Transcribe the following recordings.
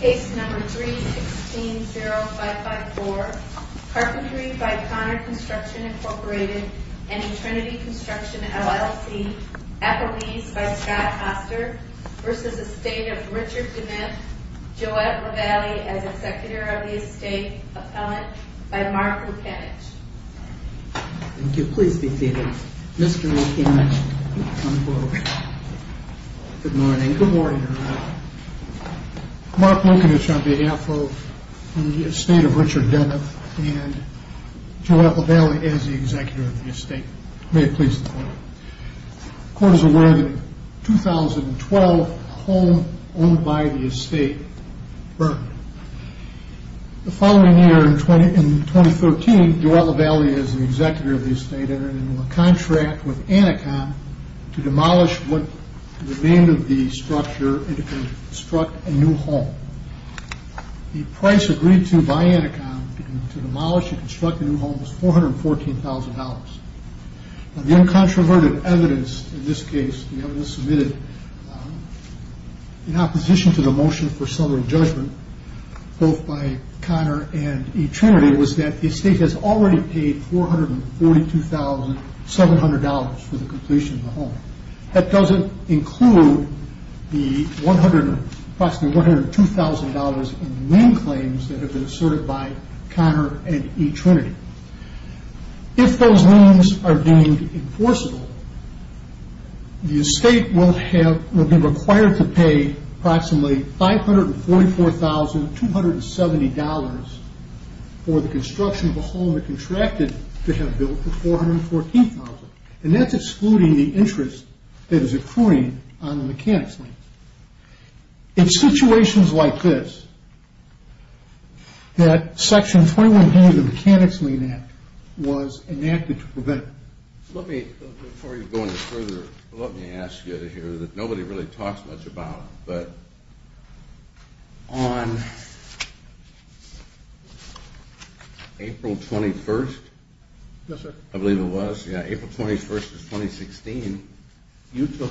Case No. 3-16-0554 Carpentry by Connor Construction, Inc. v. Trinity Construction, LLC Appellees by Scott Foster v. Estate of Richard Demith Joette Revelli as Executive of the Estate, Appellant by Mark Lukanich Mark Lukanich on behalf of the Estate of Richard Demith and Joette Revelli as the Executive of the Estate. May it please the Court. The Court is aware that in 2012 a home owned by the Estate burned. The following year, in 2013, Joette Revelli as the Executive of the Estate entered into a contract with Anacom to demolish what remained of the structure and to construct a new home. The price agreed to by Anacom to demolish and construct the new home was $414,000. The uncontroverted evidence in this case submitted in opposition to the motion for summary judgment, both by Connor and E. Trinity, was that the Estate has already paid $442,700 for the completion of the home. That doesn't include the approximately $102,000 in name claims that have been asserted by Connor and E. Trinity. If those names are deemed enforceable, the Estate will be required to pay approximately $544,270 for the construction of the home it contracted to have built for $414,000. And that's excluding the interest that is accruing on the mechanic's name. It's situations like this that Section 21A of the Mechanics' Main Act was enacted to prevent it. Let me, before you go any further, let me ask you to hear that nobody really talks much about. But on April 21st, I believe it was, April 21st of 2016, you took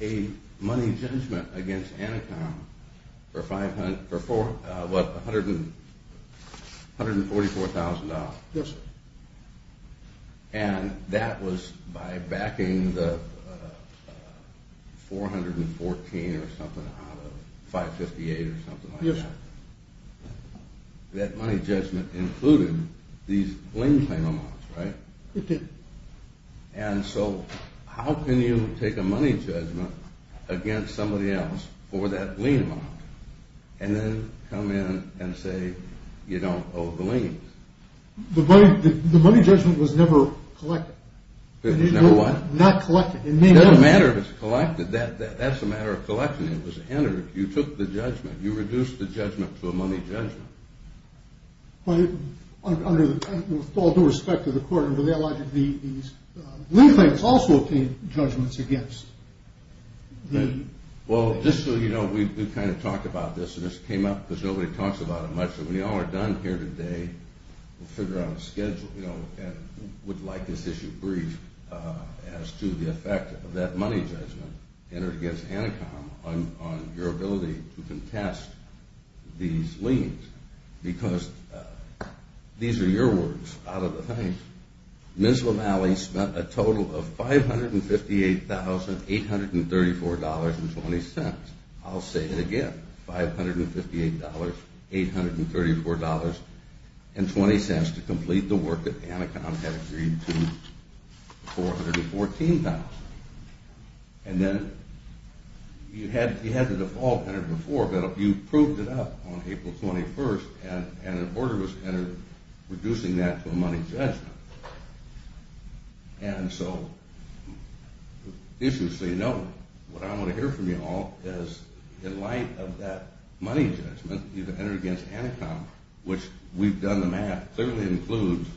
a money judgment against Anacom for $144,000. And that was by backing the $414,000 or something out of $558,000 or something like that? Yes. That money judgment included these lien claim amounts, right? It did. And so how can you take a money judgment against somebody else for that lien amount and then come in and say you don't owe the liens? The money judgment was never collected. It was never what? Not collected. It doesn't matter if it's collected. That's a matter of collection. It was entered. You took the judgment. You reduced the judgment to a money judgment. With all due respect to the court, the lien claims also obtained judgments against. Well, just so you know, we kind of talked about this and this came up because nobody talks about it much. So when you all are done here today, we'll figure out a schedule and would like this issue briefed as to the effect of that money judgment entered against Anacom on your ability to contest these liens. Because these are your words out of the thing. Ms. LaMalle spent a total of $558,834.20. I'll say it again, $558,834.20 to complete the work that Anacom had agreed to, $414,000. And then you had the default entered before, but you proved it up on April 21st and an order was entered reducing that to a money judgment. And so, just so you know, what I want to hear from you all is in light of that money judgment you've entered against Anacom, which we've done the math, clearly includes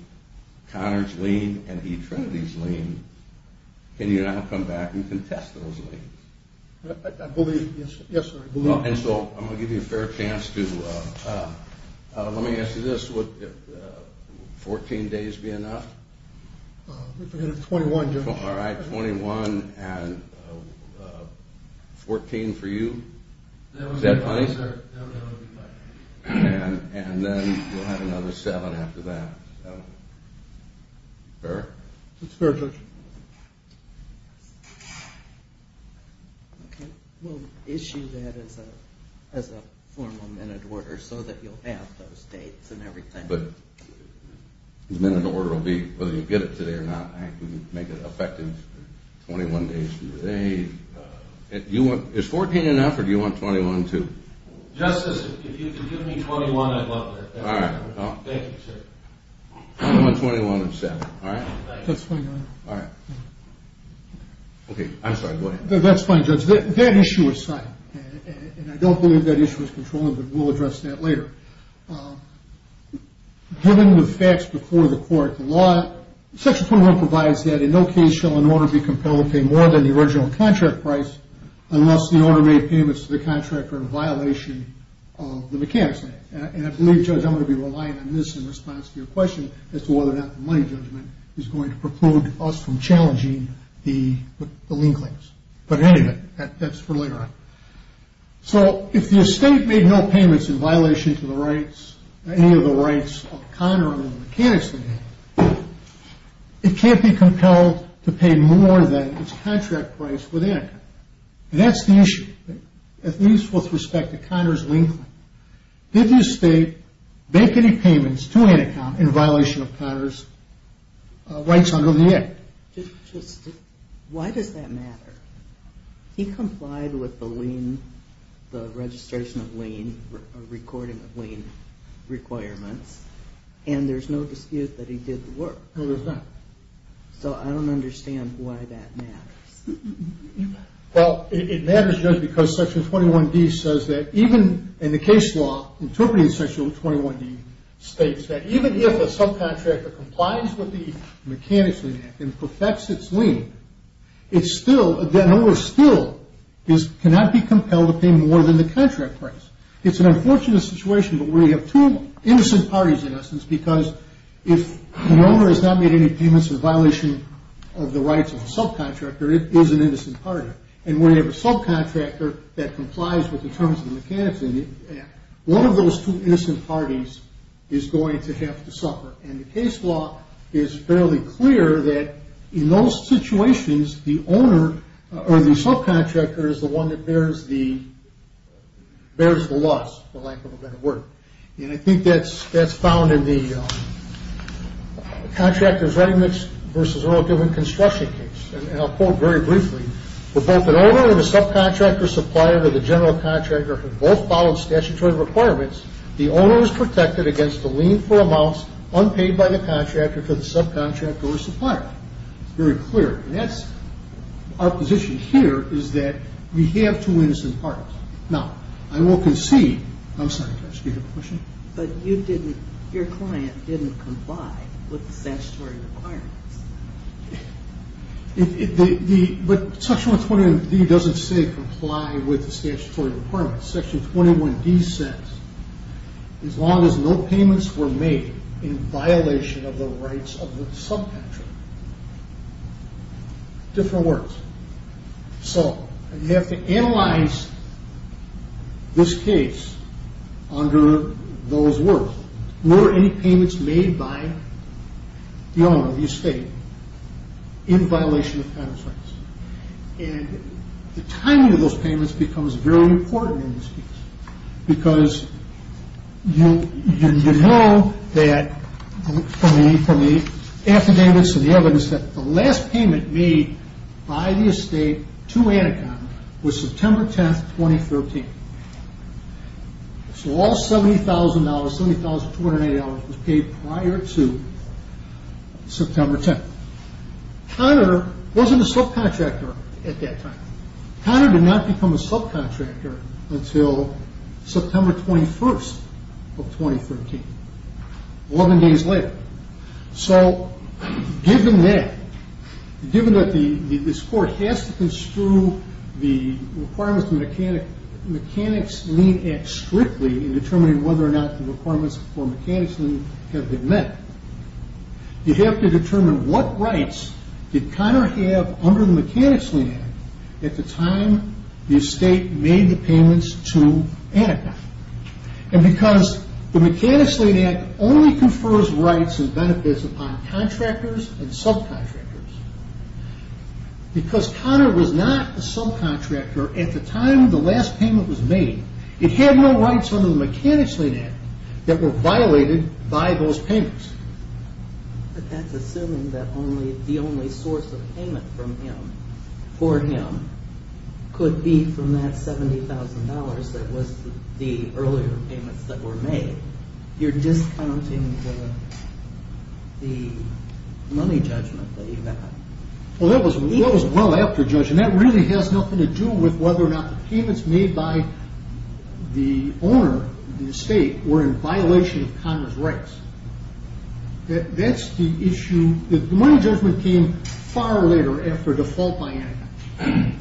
Conard's lien and E. Trinity's lien. Can you now come back and contest those liens? I believe, yes, sir. And so I'm going to give you a fair chance to – let me ask you this, would 14 days be enough? If we had a 21, yes. All right, 21 and 14 for you? Is that fine? That would be fine. And then we'll have another seven after that. Fair? It's fair, Judge. Okay, we'll issue that as a formal minute order so that you'll have those dates and everything. But the minute order will be whether you get it today or not. I can make it effective 21 days today. Is 14 enough or do you want 21 too? Justice, if you could give me 21, I'd love that. All right. Thank you, sir. I want 21 and 7, all right? That's fine, Your Honor. All right. Okay, I'm sorry, go ahead. That's fine, Judge. That issue aside, and I don't believe that issue is controlling, but we'll address that later. Given the facts before the court, the law, Section 21 provides that in no case shall an order be compelled to pay more than the original contract price unless the owner made payments to the contractor in violation of the mechanics act. And I believe, Judge, I'm going to be relying on this in response to your question as to whether or not the money judgment is going to prevent us from challenging the lien claims. But anyway, that's for later on. So if the estate made no payments in violation to the rights, any of the rights of Connor on the mechanics, it can't be compelled to pay more than its contract price for that. That's the issue. With respect to Connor's lien claim, did the estate make any payments to an account in violation of Connor's rights under the act? Why does that matter? He complied with the registration of lien, recording of lien requirements, and there's no dispute that he did the work. No, there's not. So I don't understand why that matters. Well, it matters, Judge, because Section 21D says that even in the case law, interpreting Section 21D states that even if a subcontractor complies with the mechanics of the act and perfects its lien, the owner still cannot be compelled to pay more than the contract price. It's an unfortunate situation, but we have two innocent parties, in essence, because if the owner has not made any payments in violation of the rights of the subcontractor, it is an innocent party. And when you have a subcontractor that complies with the terms of the mechanics of the act, one of those two innocent parties is going to have to suffer. And the case law is fairly clear that in those situations, the owner or the subcontractor is the one that bears the loss, for lack of a better word. And I think that's found in the contractor's regimen versus relative in construction case. And I'll quote very briefly. For both an owner and a subcontractor supplier, where the general contractor has both followed statutory requirements, the owner is protected against the lien for amounts unpaid by the contractor to the subcontractor or supplier. It's very clear. And that's our position here is that we have two innocent parties. Now, I will concede. I'm sorry. Did you have a question? But you didn't, your client didn't comply with the statutory requirements. But Section 121D doesn't say comply with the statutory requirements. Section 21D says as long as no payments were made in violation of the rights of the subcontractor. Different words. So you have to analyze this case under those words. Were any payments made by the owner of the estate in violation of counterfeits? And the timing of those payments becomes very important in this case. Because you know that from the affidavits and the evidence that the last payment made by the estate to Anaconda was September 10th, 2013. So all $70,000, $70,280 was paid prior to September 10th. Connor wasn't a subcontractor at that time. Connor did not become a subcontractor until September 21st of 2013. More than days later. So given that, given that this court has to construe the requirements of the Mechanics Lien Act strictly in determining whether or not the requirements for Mechanics Lien have been met, you have to determine what rights did Connor have under the Mechanics Lien Act at the time the estate made the payments to Anaconda. And because the Mechanics Lien Act only confers rights and benefits upon contractors and subcontractors, because Connor was not a subcontractor at the time the last payment was made, it had no rights under the Mechanics Lien Act that were violated by those payments. But that's assuming that the only source of payment for him could be from that $70,000 that was the earlier payments that were made. You're discounting the money judgment that you got. Well, that was well after judgment. That really has nothing to do with whether or not the payments made by the owner of the estate were in violation of Connor's rights. That's the issue. The money judgment came far later after default by Anaconda.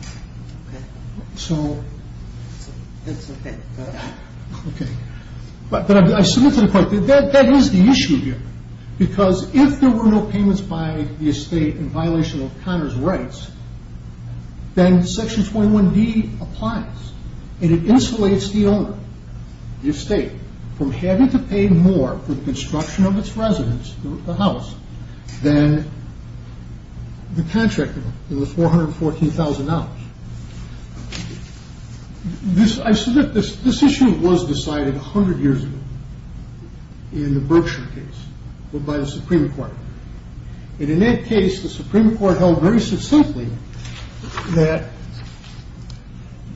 But I submit to the court that that is the issue here. Because if there were no payments by the estate in violation of Connor's rights, then Section 21D applies, and it insulates the owner, the estate, from having to pay more for the construction of its residence, the house, than the contractor in the $414,000. I submit this issue was decided 100 years ago in the Berkshire case by the Supreme Court. And in that case, the Supreme Court held very succinctly that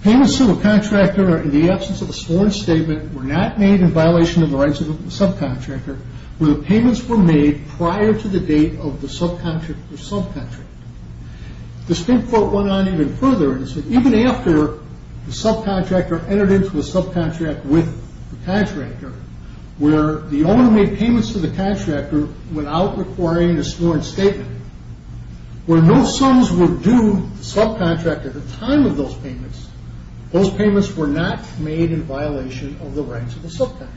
payments to a contractor in the absence of a sworn statement were not made in violation of the rights of the subcontractor where the payments were made prior to the date of the subcontractor's subcontract. The Supreme Court went on even further and said even after the subcontractor entered into a subcontract with the contractor, where the owner made payments to the contractor without requiring a sworn statement, where no sums were due to the subcontractor at the time of those payments, those payments were not made in violation of the rights of the subcontractor.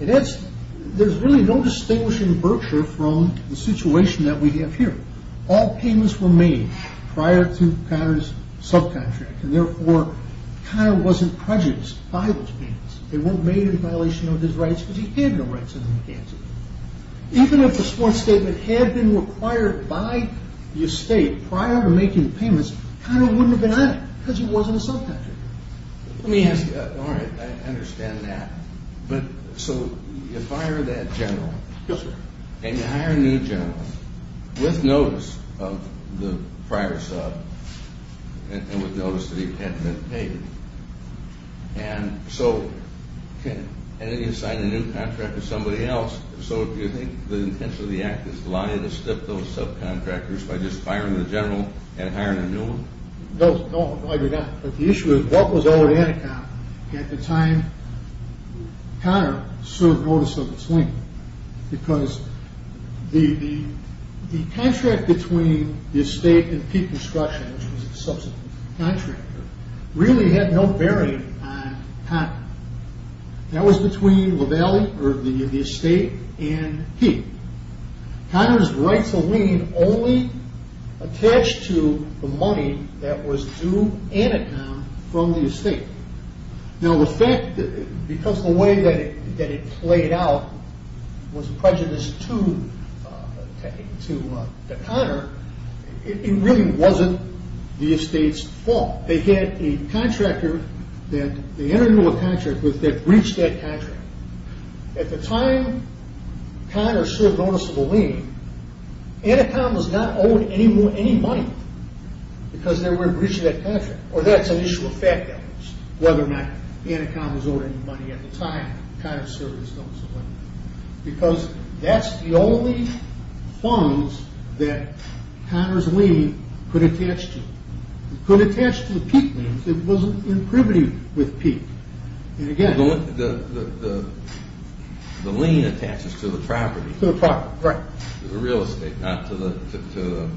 And there's really no distinguishing Berkshire from the situation that we have here. All payments were made prior to Connor's subcontractor, and therefore Connor wasn't prejudiced by those payments. They weren't made in violation of his rights because he had no rights as a contractor. Even if a sworn statement had been required by the estate prior to making the payments, Connor wouldn't have been on it because he wasn't a subcontractor. Let me ask you, all right, I understand that, but so you fire that general. Yes, sir. And you hire a new general with notice of the prior sub and with notice that he hadn't been paid. And so, and then you sign a new contract with somebody else. So do you think the intention of the Act is to allow you to stiff those subcontractors by just firing the general and hiring a new one? No, no, I do not. But the issue is what was owed Anaconda at the time Connor served notice of his lien? Because the contract between the estate and Peat Construction, which was a subcontractor, really had no bearing on Connor. That was between LaValle or the estate and Peat. Connor's right to lien only attached to the money that was due Anaconda from the estate. Now the fact, because the way that it played out was prejudice to Connor, it really wasn't the estate's fault. They had a contractor that they entered into a contract with that breached that contract. At the time Connor served notice of a lien, Anaconda was not owed any money because they were breaching that contract. Or that's an issue of fact that was. Whether or not Anaconda was owed any money at the time Connor served his notice of a lien. Because that's the only funds that Connor's lien could attach to. It could attach to Peat, but it wasn't in privity with Peat. The lien attaches to the property. To the property, right. The real estate, not to the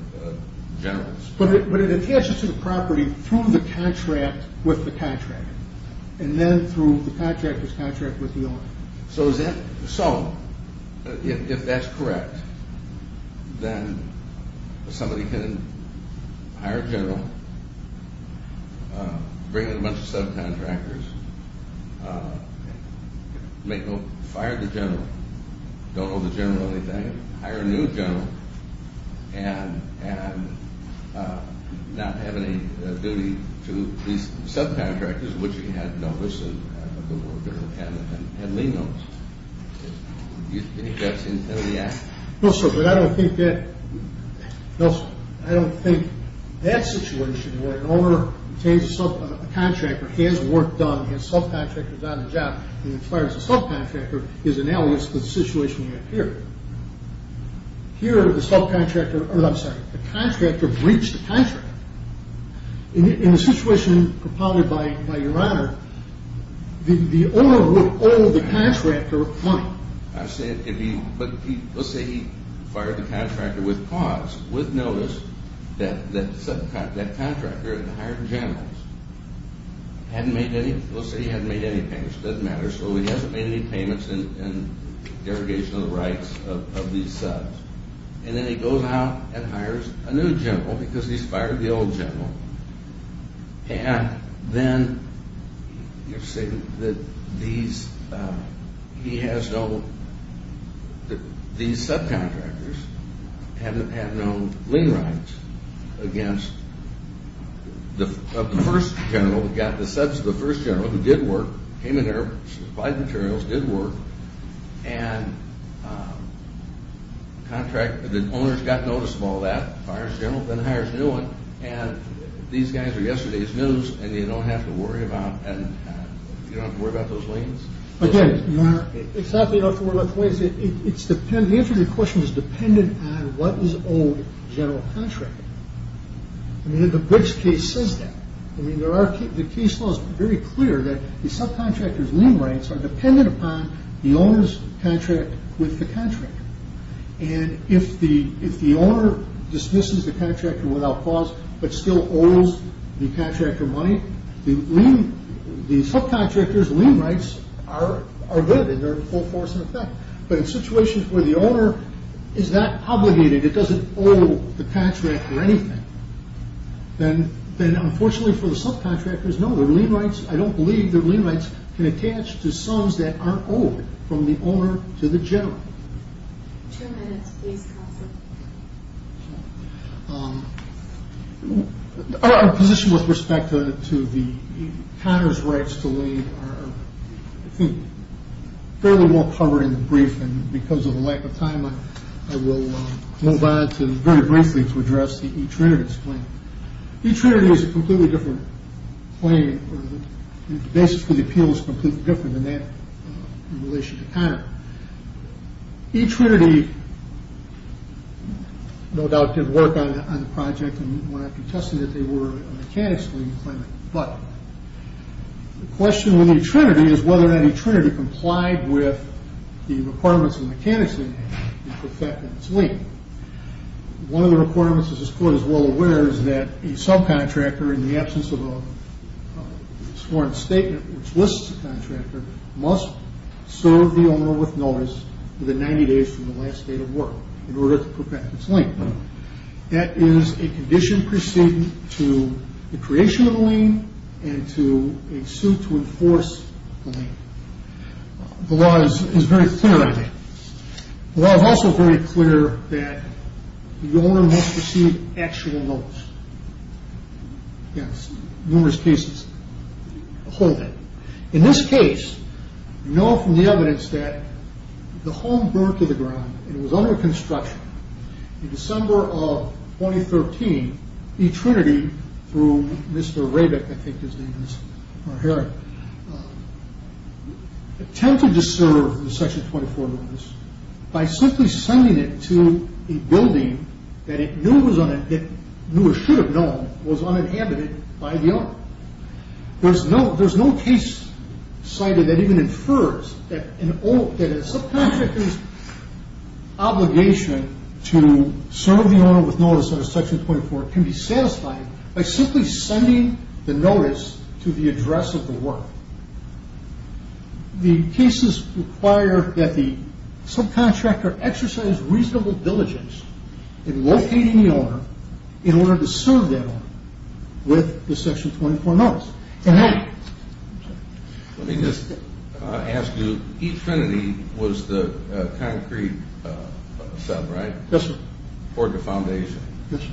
general. But it attaches to the property through the contract with the contractor. And then through the contractor's contract with the owner. So, if that's correct, then somebody can hire a general, bring in a bunch of subcontractors, fire the general, don't owe the general anything, hire a new general, and not have any duty to these subcontractors, which he had noticed, and had lien notice. Do you think that's in the act? No, sir, but I don't think that situation where an owner obtains a subcontractor, has work done, has subcontractors on the job, and fires a subcontractor is analogous to the situation we have here. Here, the subcontractor, I'm sorry, the contractor breached the contract. In the situation propounded by Your Honor, the owner would owe the contractor money. But let's say he fired the contractor with cause, with notice, that subcontractor had hired generals. Let's say he hadn't made any payments. It doesn't matter. So, he hasn't made any payments in derogation of the rights of these subs. And then he goes out and hires a new general because he's fired the old general. And then these subcontractors have no lien rights against the first general who got the subs of the first general who did work, came in there, supplied materials, did work, and the owners got notice of all that, fires the general, then hires a new one, and these guys are yesterday's news and you don't have to worry about those liens? Again, Your Honor, it's not that you don't have to worry about the liens. The answer to your question is dependent on what was owed to the general contractor. I mean, the Briggs case says that. I mean, the case law is very clear that the subcontractor's lien rights are dependent upon the owner's contract with the contractor. And if the owner dismisses the contractor without cause, but still owes the contractor money, the subcontractor's lien rights are good and they're in full force in effect. But in situations where the owner is not obligated, it doesn't owe the contractor anything, then unfortunately for the subcontractors, no, their lien rights, I don't believe their lien rights can attach to sums that aren't owed from the owner to the general. Two minutes, please, counsel. Our position with respect to the counter's rights to lien are, I think, fairly more covered in the brief, and because of the lack of time, I will move on to very briefly to address the E. Trinidad's claim. E. Trinidad is a completely different claim, and the basis for the appeal is completely different than that in relation to counter. E. Trinidad, no doubt, did work on the project and when I contested it, they were a mechanics lien claimant, but the question with E. Trinidad is whether or not E. Trinidad complied with the requirements of mechanics lien, which affect its lien. One of the requirements, as this court is well aware, is that a subcontractor, in the absence of a sworn statement, which lists a contractor, must serve the owner with notice within 90 days from the last day of work in order to perfect its lien. That is a condition preceding to the creation of the lien and to a suit to enforce the lien. The law is very clear on that. The law is also very clear that the owner must receive actual notice. Yes, numerous cases, a whole lot. In this case, we know from the evidence that the home burned to the ground and it was under construction in December of 2013. E. Trinidad, through Mr. Rabick, I think his name is, or Herrick, attempted to serve the Section 24 notice by simply sending it to a building that it knew it should have known was uninhabited by the owner. There's no case cited that even infers that a subcontractor's obligation to serve the owner with notice under Section 24 can be satisfied by simply sending the notice to the address of the work. The cases require that the subcontractor exercise reasonable diligence in locating the owner in order to serve that owner with the Section 24 notice. Let me just ask you, E. Trinidad was the concrete sub, right? Yes, sir. For the foundation? Yes, sir.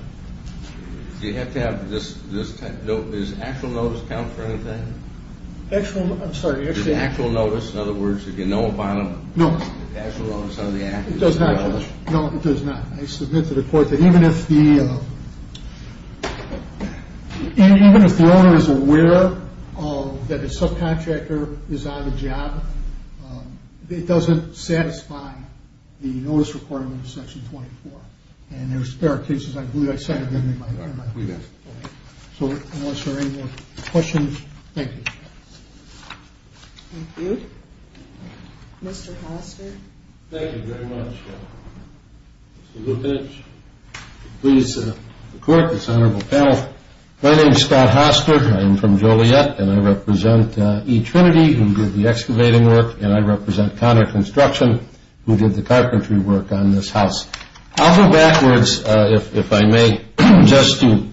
Do you have to have this type, does actual notice count for anything? Actual, I'm sorry. Does actual notice, in other words, if you know about it, does actual notice under the act count? No, it does not. I submit to the court that even if the owner is aware that a subcontractor is on the job, it doesn't satisfy the notice requirement of Section 24. And there are spare cases I believe I cited. So unless there are any more questions, thank you. Thank you. Mr. Hoster. Thank you very much. Mr. Lupich, please report to this honorable panel. My name is Scott Hoster. I'm from Joliet, and I represent E. Trinity, who did the excavating work, and I represent Connor Construction, who did the carpentry work on this house. I'll go backwards, if I may, just to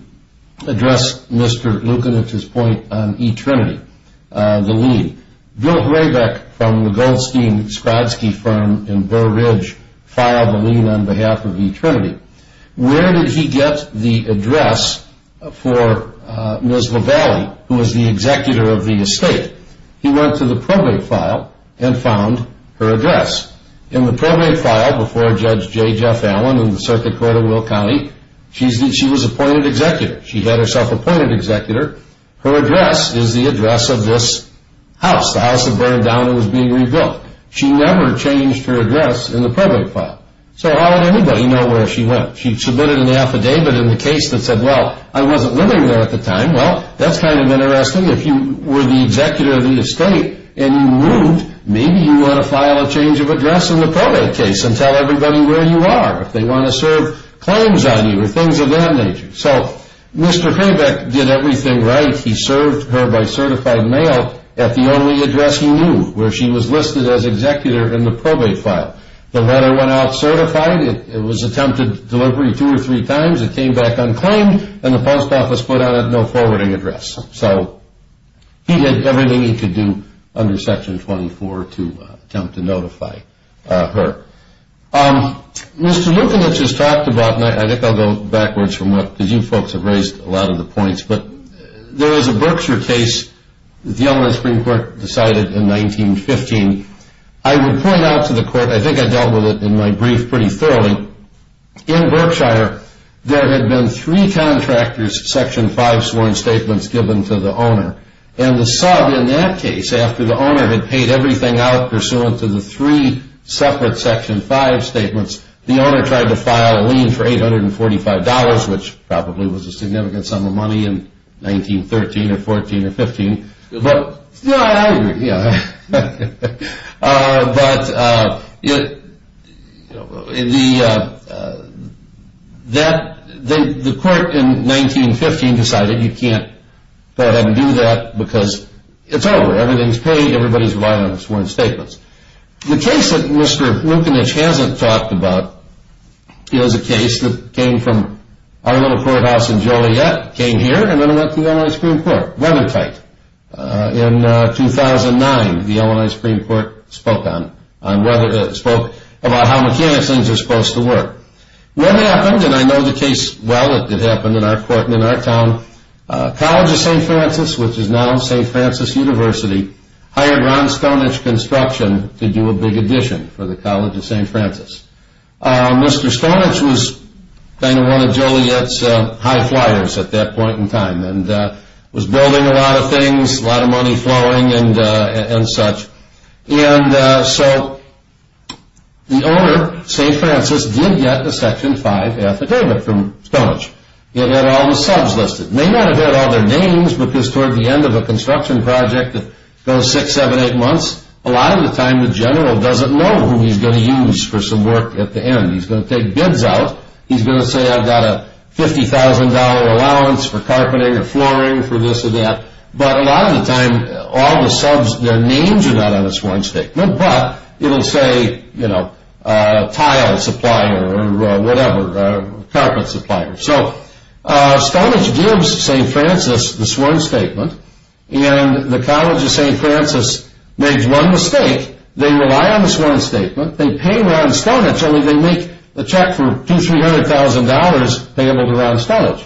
address Mr. Lupich's point on E. Trinity, the lien. Bill Horaybeck from the Goldstein-Skrodsky firm in Burr Ridge filed a lien on behalf of E. Trinity. Where did he get the address for Ms. Lavallee, who was the executor of the estate? He went to the probate file and found her address. In the probate file before Judge J. Jeff Allen in the Circuit Court of Will County, she was appointed executor. She had herself appointed executor. Her address is the address of this house. The house had burned down and was being rebuilt. She never changed her address in the probate file. So how did anybody know where she went? She submitted an affidavit in the case that said, well, I wasn't living there at the time. Well, that's kind of interesting. If you were the executor of the estate and you moved, maybe you ought to file a change of address in the probate case and tell everybody where you are. If they want to serve claims on you or things of that nature. So Mr. Horaybeck did everything right. He served her by certified mail at the only address he knew, where she was listed as executor in the probate file. The letter went out certified. It was attempted delivery two or three times. It came back unclaimed, and the post office put on it no forwarding address. So he did everything he could do under Section 24 to attempt to notify her. Mr. Lukanich has talked about, and I think I'll go backwards from that, because you folks have raised a lot of the points, but there was a Berkshire case that the Illinois Supreme Court decided in 1915. I would point out to the court, I think I dealt with it in my brief pretty thoroughly. In Berkshire, there had been three contractors, Section 5 sworn statements given to the owner. And the sub in that case, after the owner had paid everything out pursuant to the three separate Section 5 statements, the owner tried to file a lien for $845, which probably was a significant sum of money in 1913 or 14 or 15. I agree. But the court in 1915 decided you can't go ahead and do that because it's over. Everything's paid. Everybody's reliant on their sworn statements. The case that Mr. Lukanich hasn't talked about is a case that came from our little courthouse in Joliet, came here, and then it went to the Illinois Supreme Court. Weathertight. In 2009, the Illinois Supreme Court spoke about how mechanics things are supposed to work. What happened, and I know the case well, it did happen in our court and in our town, College of St. Francis, which is now St. Francis University, hired Ron Stonich Construction to do a big addition for the College of St. Francis. Mr. Stonich was kind of one of Joliet's high flyers at that point in time and was building a lot of things, a lot of money flowing and such. And so the owner, St. Francis, did get a Section 5 affidavit from Stonich. It had all the subs listed. It may not have had all their names because toward the end of a construction project that goes six, seven, eight months, a lot of the time the general doesn't know who he's going to use for some work at the end. He's going to take bids out. He's going to say, I've got a $50,000 allowance for carpeting or flooring for this or that. But a lot of the time, all the subs, their names are not on the sworn statement, but it will say, you know, tile supplier or whatever, carpet supplier. So Stonich gives St. Francis the sworn statement, and the College of St. Francis makes one mistake. They rely on the sworn statement. They pay Ron Stonich, only they make a check for $200,000, $300,000 payable to Ron Stonich.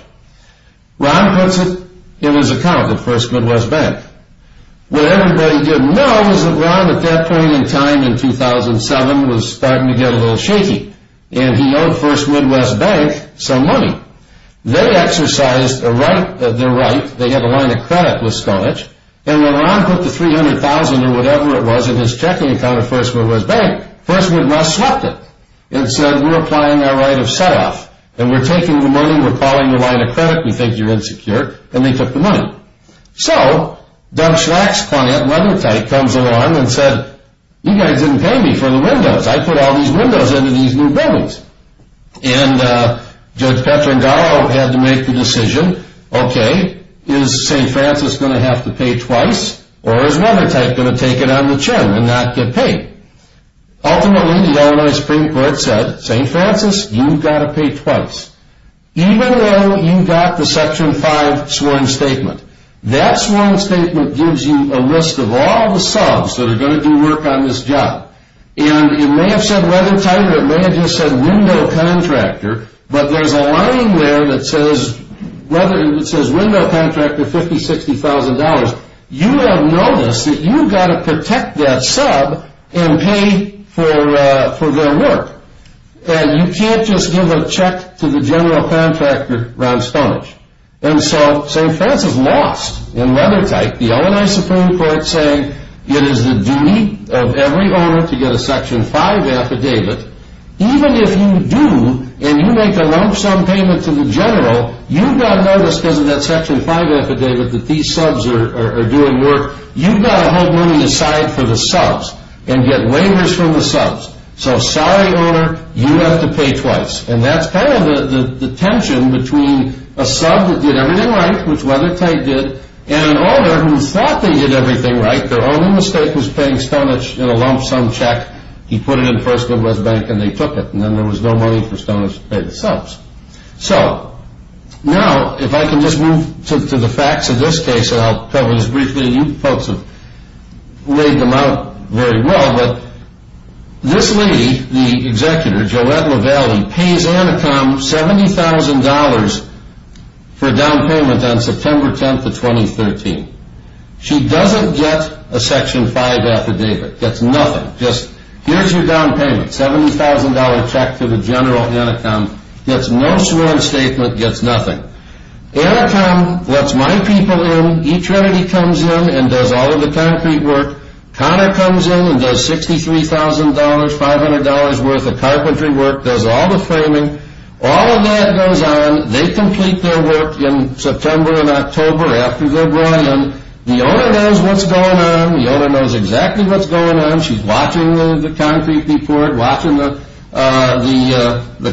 Ron puts it in his account at First Midwest Bank. What everybody didn't know was that Ron, at that point in time in 2007, was starting to get a little shaky, and he owed First Midwest Bank some money. They exercised their right, they had a line of credit with Stonich, and when Ron put the $300,000 or whatever it was in his checking account at First Midwest Bank, First Midwest slept it and said, we're applying our right of set-off, and we're taking the money, we're calling the line of credit, we think you're insecure, and they took the money. So Doug Schlack's client, Weathertight, comes along and said, you guys didn't pay me for the windows. I put all these windows into these new buildings. And Judge Petrangalo had to make the decision, okay, is St. Francis going to have to pay twice, or is Weathertight going to take it on the chin and not get paid? Ultimately, the Illinois Supreme Court said, St. Francis, you've got to pay twice. Even though you got the Section 5 sworn statement, that sworn statement gives you a list of all the subs that are going to do work on this job. And it may have said Weathertight, or it may have just said window contractor, but there's a line there that says window contractor $50,000, $60,000. You have noticed that you've got to protect that sub and pay for their work. And you can't just give a check to the general contractor, Ron Stonich. And so St. Francis lost in Weathertight. The Illinois Supreme Court saying it is the duty of every owner to get a Section 5 affidavit. Even if you do, and you make a lump sum payment to the general, you've got to notice because of that Section 5 affidavit that these subs are doing work. You've got to hold money aside for the subs and get waivers from the subs. So salary owner, you have to pay twice. And that's kind of the tension between a sub that did everything right, which Weathertight did, and an owner who thought they did everything right. Their only mistake was paying Stonich in a lump sum check. He put it in first Midwest Bank, and they took it. And then there was no money for Stonich to pay the subs. So now if I can just move to the facts of this case, and I'll cover this briefly. You folks have laid them out very well. This lady, the executor, Joette LaValle, pays Anacom $70,000 for a down payment on September 10, 2013. She doesn't get a Section 5 affidavit. Gets nothing. Just, here's your down payment. $70,000 check to the general, Anacom. Gets no sworn statement. Gets nothing. Anacom lets my people in. E-Trinity comes in and does all of the concrete work. Connor comes in and does $63,000, $500 worth of carpentry work. Does all the framing. All of that goes on. They complete their work in September and October after they're brought in. The owner knows what's going on. The owner knows exactly what's going on. She's watching the concrete be poured, watching the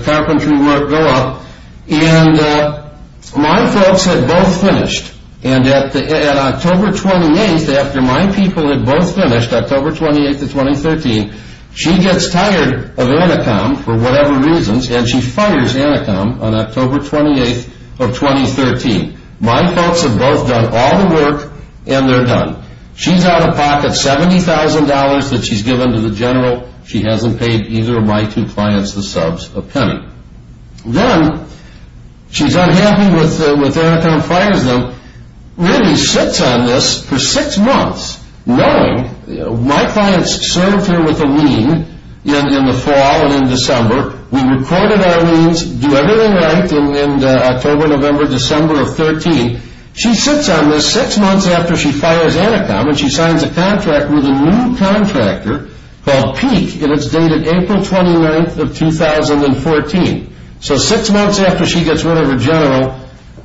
carpentry work go up. And my folks had both finished. And at October 28th, after my people had both finished, October 28th of 2013, she gets tired of Anacom for whatever reasons and she fires Anacom on October 28th of 2013. My folks have both done all the work and they're done. She's out of pocket. $70,000 that she's given to the general, she hasn't paid either of my two clients the subs a penny. Then she's unhappy with Anacom fires them. Randy sits on this for six months, knowing my clients served her with a lien in the fall and in December. We recorded our liens, do everything right in October, November, December of 2013. She sits on this six months after she fires Anacom and she signs a contract with a new contractor called Peak and it's dated April 29th of 2014. So six months after she gets rid of her general,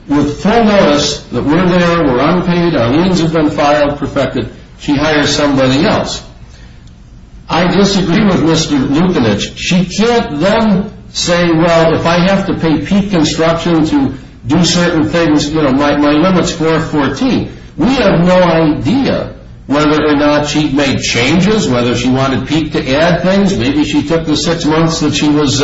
with full notice that we're there, we're unpaid, our liens have been filed, perfected, she hires somebody else. I disagree with Mr. Lukinich. She can't then say, well, if I have to pay Peak Construction to do certain things, my limit's 414. We have no idea whether or not she made changes, whether she wanted Peak to add things. Maybe she took the six months that she was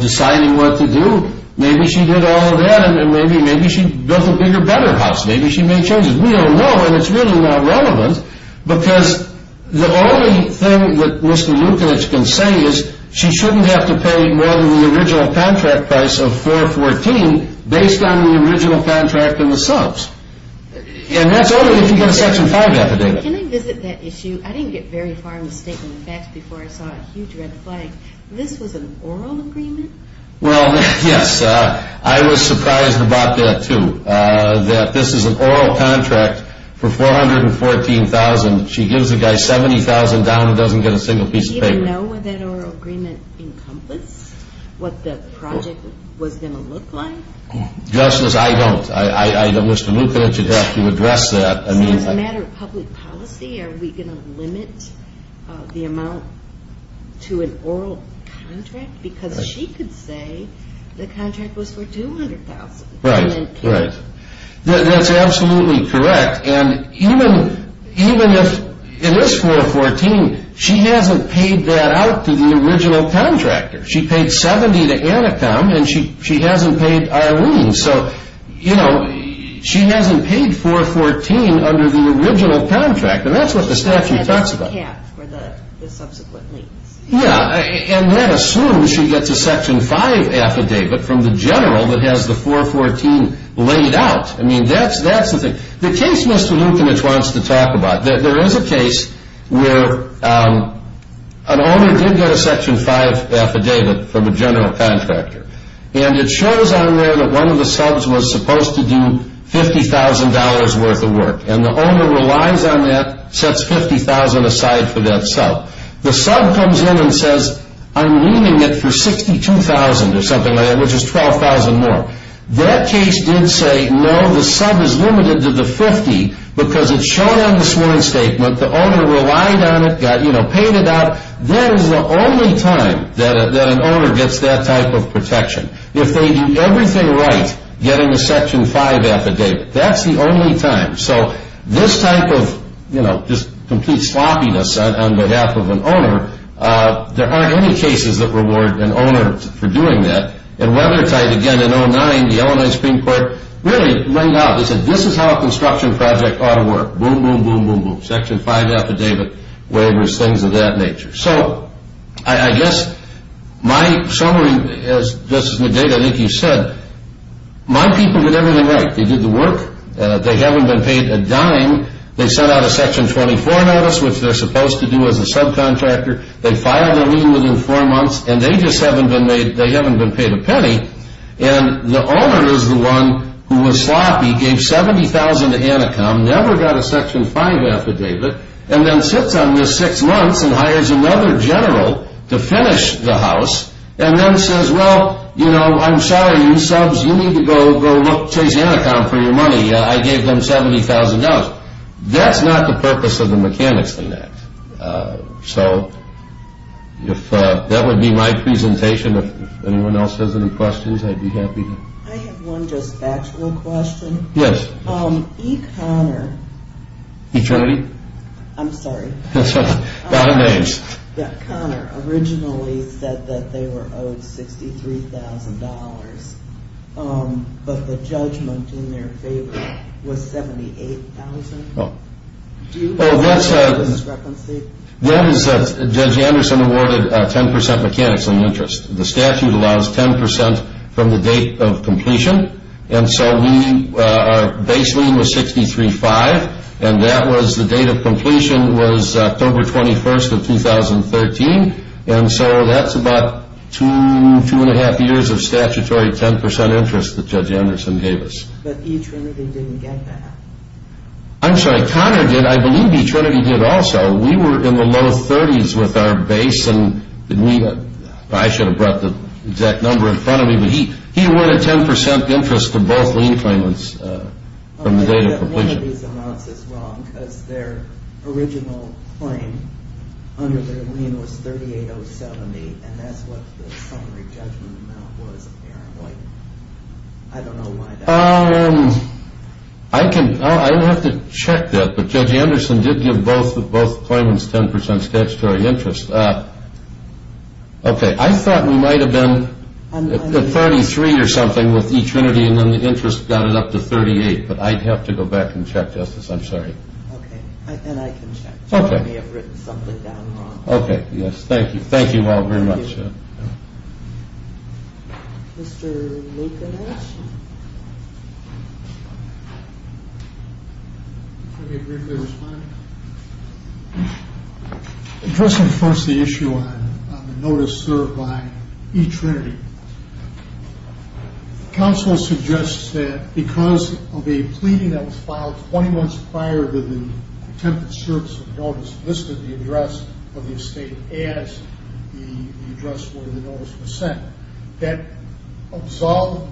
deciding what to do. Maybe she did all of that and maybe she built a bigger, better house. Maybe she made changes. We don't know and it's really not relevant because the only thing that Mr. Lukinich can say is she shouldn't have to pay more than the original contract price of 414 based on the original contract and the subs. And that's only if you get a Section 5 affidavit. Can I visit that issue? I didn't get very far in the statement of facts before I saw a huge red flag. This was an oral agreement? Well, yes. I was surprised about that, too, that this is an oral contract for 414,000. She gives a guy 70,000 down and doesn't get a single piece of paper. Does she even know what that oral agreement encompassed, what the project was going to look like? Justice, I don't. Mr. Lukinich would have to address that. As a matter of public policy, are we going to limit the amount to an oral contract? Because she could say the contract was for 200,000. Right, right. That's absolutely correct. And even if it is 414, she hasn't paid that out to the original contractor. She paid 70 to Anacom, and she hasn't paid Arlene. So, you know, she hasn't paid 414 under the original contract. And that's what the statute talks about. That is the cap for the subsequent liens. Yeah, and that assumes she gets a Section 5 affidavit from the general that has the 414 laid out. I mean, that's the thing. The case Mr. Lukinich wants to talk about, there is a case where an owner did get a Section 5 affidavit from a general contractor. And it shows on there that one of the subs was supposed to do $50,000 worth of work. And the owner relies on that, sets $50,000 aside for that sub. The sub comes in and says, I'm leaving it for $62,000 or something like that, which is $12,000 more. That case did say, no, the sub is limited to the $50,000 because it's shown on the sworn statement. The owner relied on it, you know, paid it out. That is the only time that an owner gets that type of protection. If they do everything right, getting a Section 5 affidavit, that's the only time. So this type of, you know, just complete sloppiness on behalf of an owner, there aren't any cases that reward an owner for doing that. And Weathertight, again, in 2009, the Illinois Supreme Court really rang out. They said, this is how a construction project ought to work. Boom, boom, boom, boom, boom. Section 5 affidavit, waivers, things of that nature. So I guess my summary, this is the data that you said. My people did everything right. They did the work. They haven't been paid a dime. They sent out a Section 24 notice, which they're supposed to do as a subcontractor. They filed their lien within four months, and they just haven't been paid a penny. And the owner is the one who was sloppy, gave $70,000 to Anacom, never got a Section 5 affidavit, and then sits on this six months and hires another general to finish the house, and then says, well, you know, I'm sorry, you subs, you need to go chase Anacom for your money. I gave them $70,000. That's not the purpose of the mechanics in that. So that would be my presentation. If anyone else has any questions, I'd be happy to. I have one just factual question. Yes. E. Conner. E. Trinity? I'm sorry. A lot of names. Conner originally said that they were owed $63,000, but the judgment in their favor was $78,000. Do you know how this is referenced? Judge Anderson awarded 10% mechanics on the interest. The statute allows 10% from the date of completion, and so our base lien was $63,500, and that was the date of completion was October 21st of 2013, and so that's about two, two and a half years of statutory 10% interest that Judge Anderson gave us. But E. Trinity didn't get that. I'm sorry. Conner did. I believe E. Trinity did also. We were in the low 30s with our base, and I should have brought the exact number in front of me, but he awarded 10% interest to both lien claimants from the date of completion. One of these amounts is wrong, because their original claim under their lien was $3,870, and that's what the summary judgment amount was, apparently. I don't know why that is. I would have to check that, but Judge Anderson did give both claimants 10% statutory interest. Okay. I thought we might have been at 33 or something with E. Trinity, and then the interest got it up to 38, but I'd have to go back and check this. I'm sorry. Okay, and I can check. Okay. We may have written something down wrong. Okay, yes. Thank you. Thank you all very much. Thank you. Mr. Lopez? Let me briefly respond. Addressing first the issue on the notice served by E. Trinity, counsel suggests that because of a pleading that was filed 20 months prior to the attempted service of the notice listed in the address of the estate as the address where the notice was sent, that absolved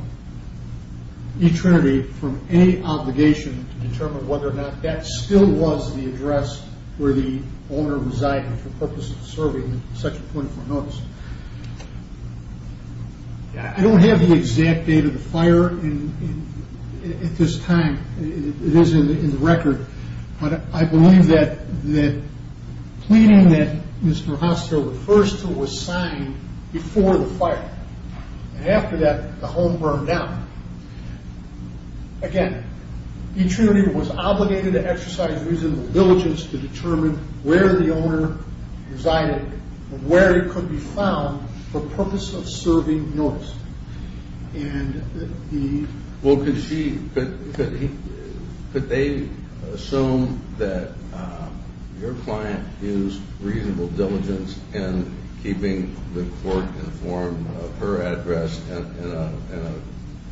E. Trinity from any obligation to determine whether or not that still was the address where the owner resided for purposes of serving such a 24-month notice. I don't have the exact date of the fire at this time. It is in the record. I believe that the pleading that Mr. Hoster refers to was signed before the fire. After that, the home burned down. Again, E. Trinity was obligated to exercise reasonable diligence to determine where the owner resided and where it could be found for purpose of serving notice. Could they assume that your client used reasonable diligence in keeping the court informed of her address in a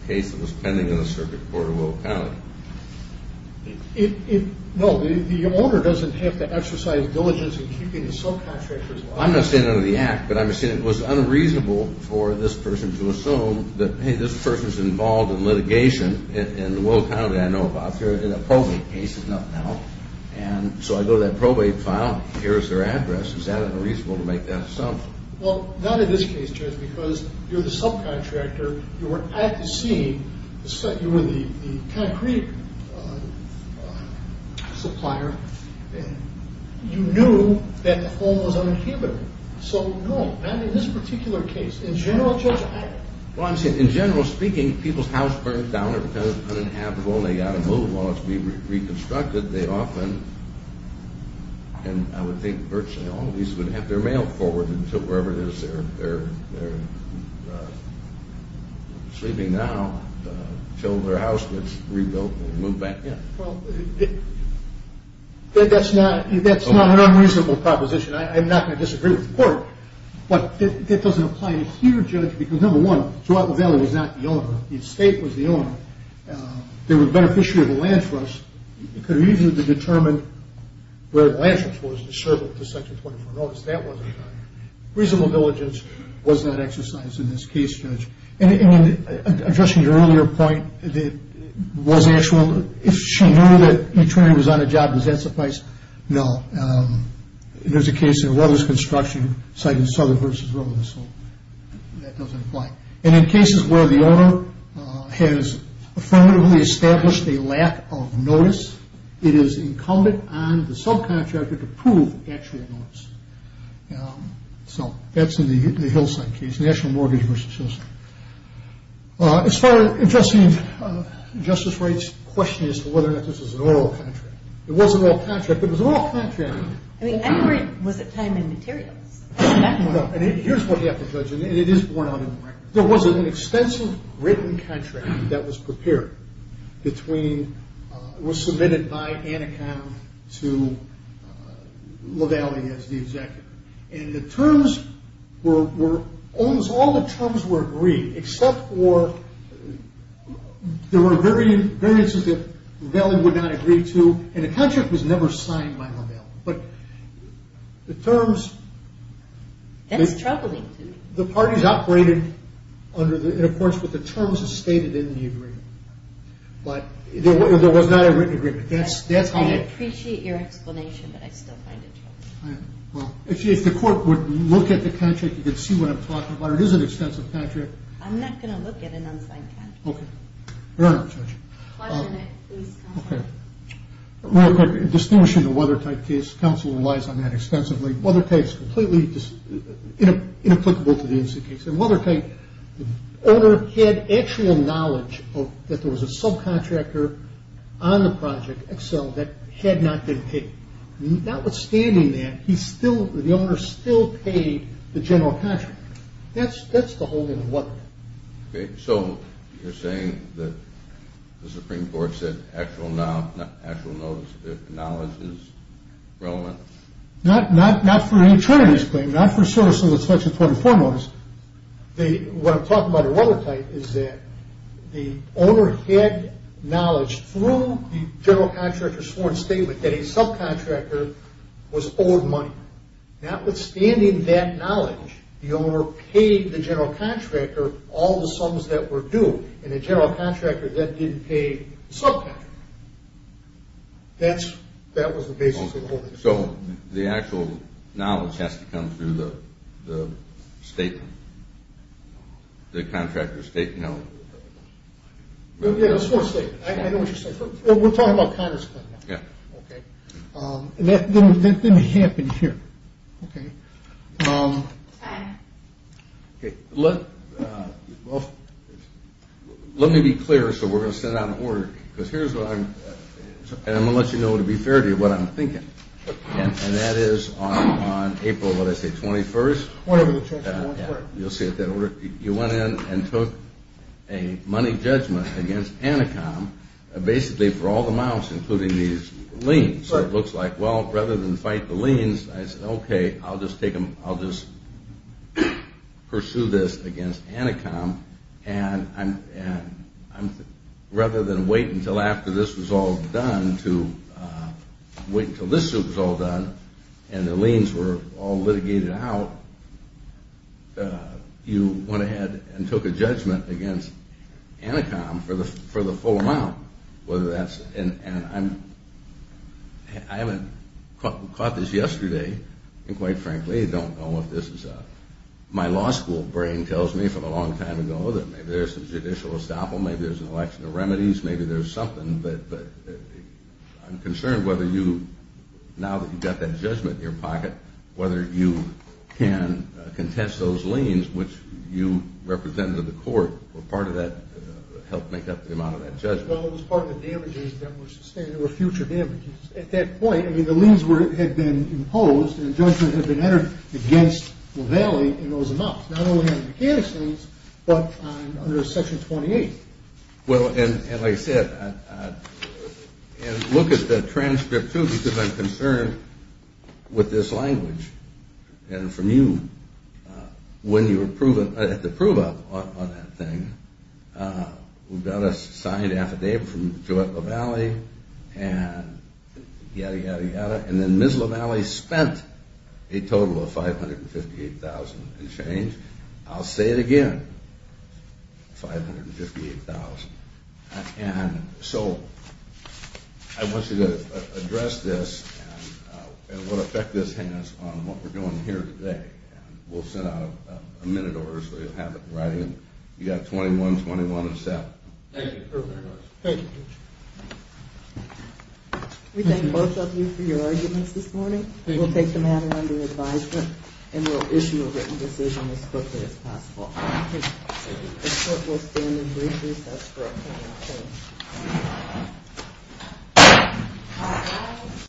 case that was pending in the circuit court of will of penalty? No. The owner doesn't have to exercise diligence in keeping the subcontractor's license. I'm not saying under the act, but I'm saying it was unreasonable for this person to assume that, hey, this person's involved in litigation in the will of penalty I know about. In a probate case, there's nothing else. And so I go to that probate file. Here's their address. Is that unreasonable to make that assumption? Well, not in this case, Judge, because you're the subcontractor. You were at the scene. You were the concrete supplier. You knew that the home was uninhabitable. So, no, not in this particular case. In general, Judge, I don't. Well, I'm saying in general speaking, people's house burned down. They're pretending it's uninhabitable. They've got to move. While it's being reconstructed, they often, and I would think virtually all of these would have their mail forwarded to wherever it is they're sleeping now until their house gets rebuilt and moved back in. Well, that's not an unreasonable proposition. I'm not going to disagree with the court, but that doesn't apply here, Judge, because, number one, throughout the valley was not the owner. The estate was the owner. They were the beneficiary of the land trust. It could have easily been determined where the land trust was to serve up to Section 24 notice. That wasn't reasonable diligence was not exercised in this case, Judge. And addressing your earlier point, if she knew that each woman was on a job, does that suffice? No. There's a case in Weathers Construction, citing Southern versus Willis, so that doesn't apply. And in cases where the owner has affirmatively established a lack of notice, it is incumbent on the subcontractor to prove actual notice. So that's in the Hillside case, national mortgage versus Hillside. As far as addressing justice rights, the question is whether or not this was an oral contract. It wasn't an oral contract, but it was an oral contract. I mean, I'm worried. Was it time and materials? No, and here's what you have to judge, and it is borne out in the record. There was an extensive written contract that was prepared between, was submitted by Anaconda to LaValle as the executive. And the terms were, almost all the terms were agreed, except for there were variances that LaValle would not agree to, and a contract was never signed by LaValle. But the terms... That's troubling to me. The parties operated in accordance with the terms stated in the agreement. But there was not a written agreement. I appreciate your explanation, but I still find it troubling. If the court would look at the contract, you could see what I'm talking about. It is an extensive contract. I'm not going to look at an unsigned contract. Okay. Your Honor, Judge. Question at please, counsel. Okay. Real quick, distinguishing the Weathertight case, counsel relies on that extensively. Weathertight is completely inapplicable to the NC case. In Weathertight, the owner had actual knowledge that there was a subcontractor on the project, Excel, that had not been paid. Notwithstanding that, the owner still paid the general contractor. That's the whole of the Weathertight. Okay. So you're saying that the Supreme Court said actual knowledge is relevant? Not for any Trinity's claim. Not for services such as 24-4 notice. What I'm talking about in Weathertight is that the owner had knowledge through the general contractor's sworn statement that a subcontractor was owed money. Notwithstanding that knowledge, the owner paid the general contractor all the sums that were due, and the general contractor, that didn't pay the subcontractor. That was the basis of the whole thing. So the actual knowledge has to come through the statement, the contractor's statement? Yeah, the sworn statement. I know what you're saying. We're talking about Conner's claim. Yeah. Okay. That didn't happen here. Okay. Let me be clear so we're going to send out an order, because here's what I'm going to let you know to be fair to you, what I'm thinking. And that is on April, what did I say, 21st? Whatever the check is. You'll see it there. You went in and took a money judgment against Anacom basically for all the I was like, well, rather than fight the liens, I said, okay, I'll just pursue this against Anacom. And rather than wait until after this was all done to wait until this was all done and the liens were all litigated out, you went ahead and took a judgment against Anacom for the full amount. And I haven't caught this yesterday, and quite frankly, I don't know if this is my law school brain tells me from a long time ago that maybe there's a judicial estoppel, maybe there's an election of remedies, maybe there's something, but I'm concerned whether you, now that you've got that judgment in your pocket, whether you can contest those liens, which you represented in the court, or part of that helped make up the amount of that judgment. Well, it was part of the damages that were sustained. There were future damages. At that point, I mean, the liens had been imposed, and the judgment had been entered against LaValle in those amounts. Not only on the mechanics liens, but under Section 28. Well, and like I said, and look at the transcript, too, because I'm concerned with this language. And from you, when you were at the prove-up on that thing, who got a signed affidavit from Joette LaValle, and yada, yada, yada, and then Ms. LaValle spent a total of $558,000 in change. I'll say it again, $558,000. And so I want you to address this and what effect this has on what we're doing here today. And we'll send out a minute order, so you'll have it in writing. You've got 21-21 and 7. Thank you very much. Thank you. We thank both of you for your arguments this morning. We'll take the matter under advisement, and we'll issue a written decision as quickly as possible. This court will stand in recess for a final hearing.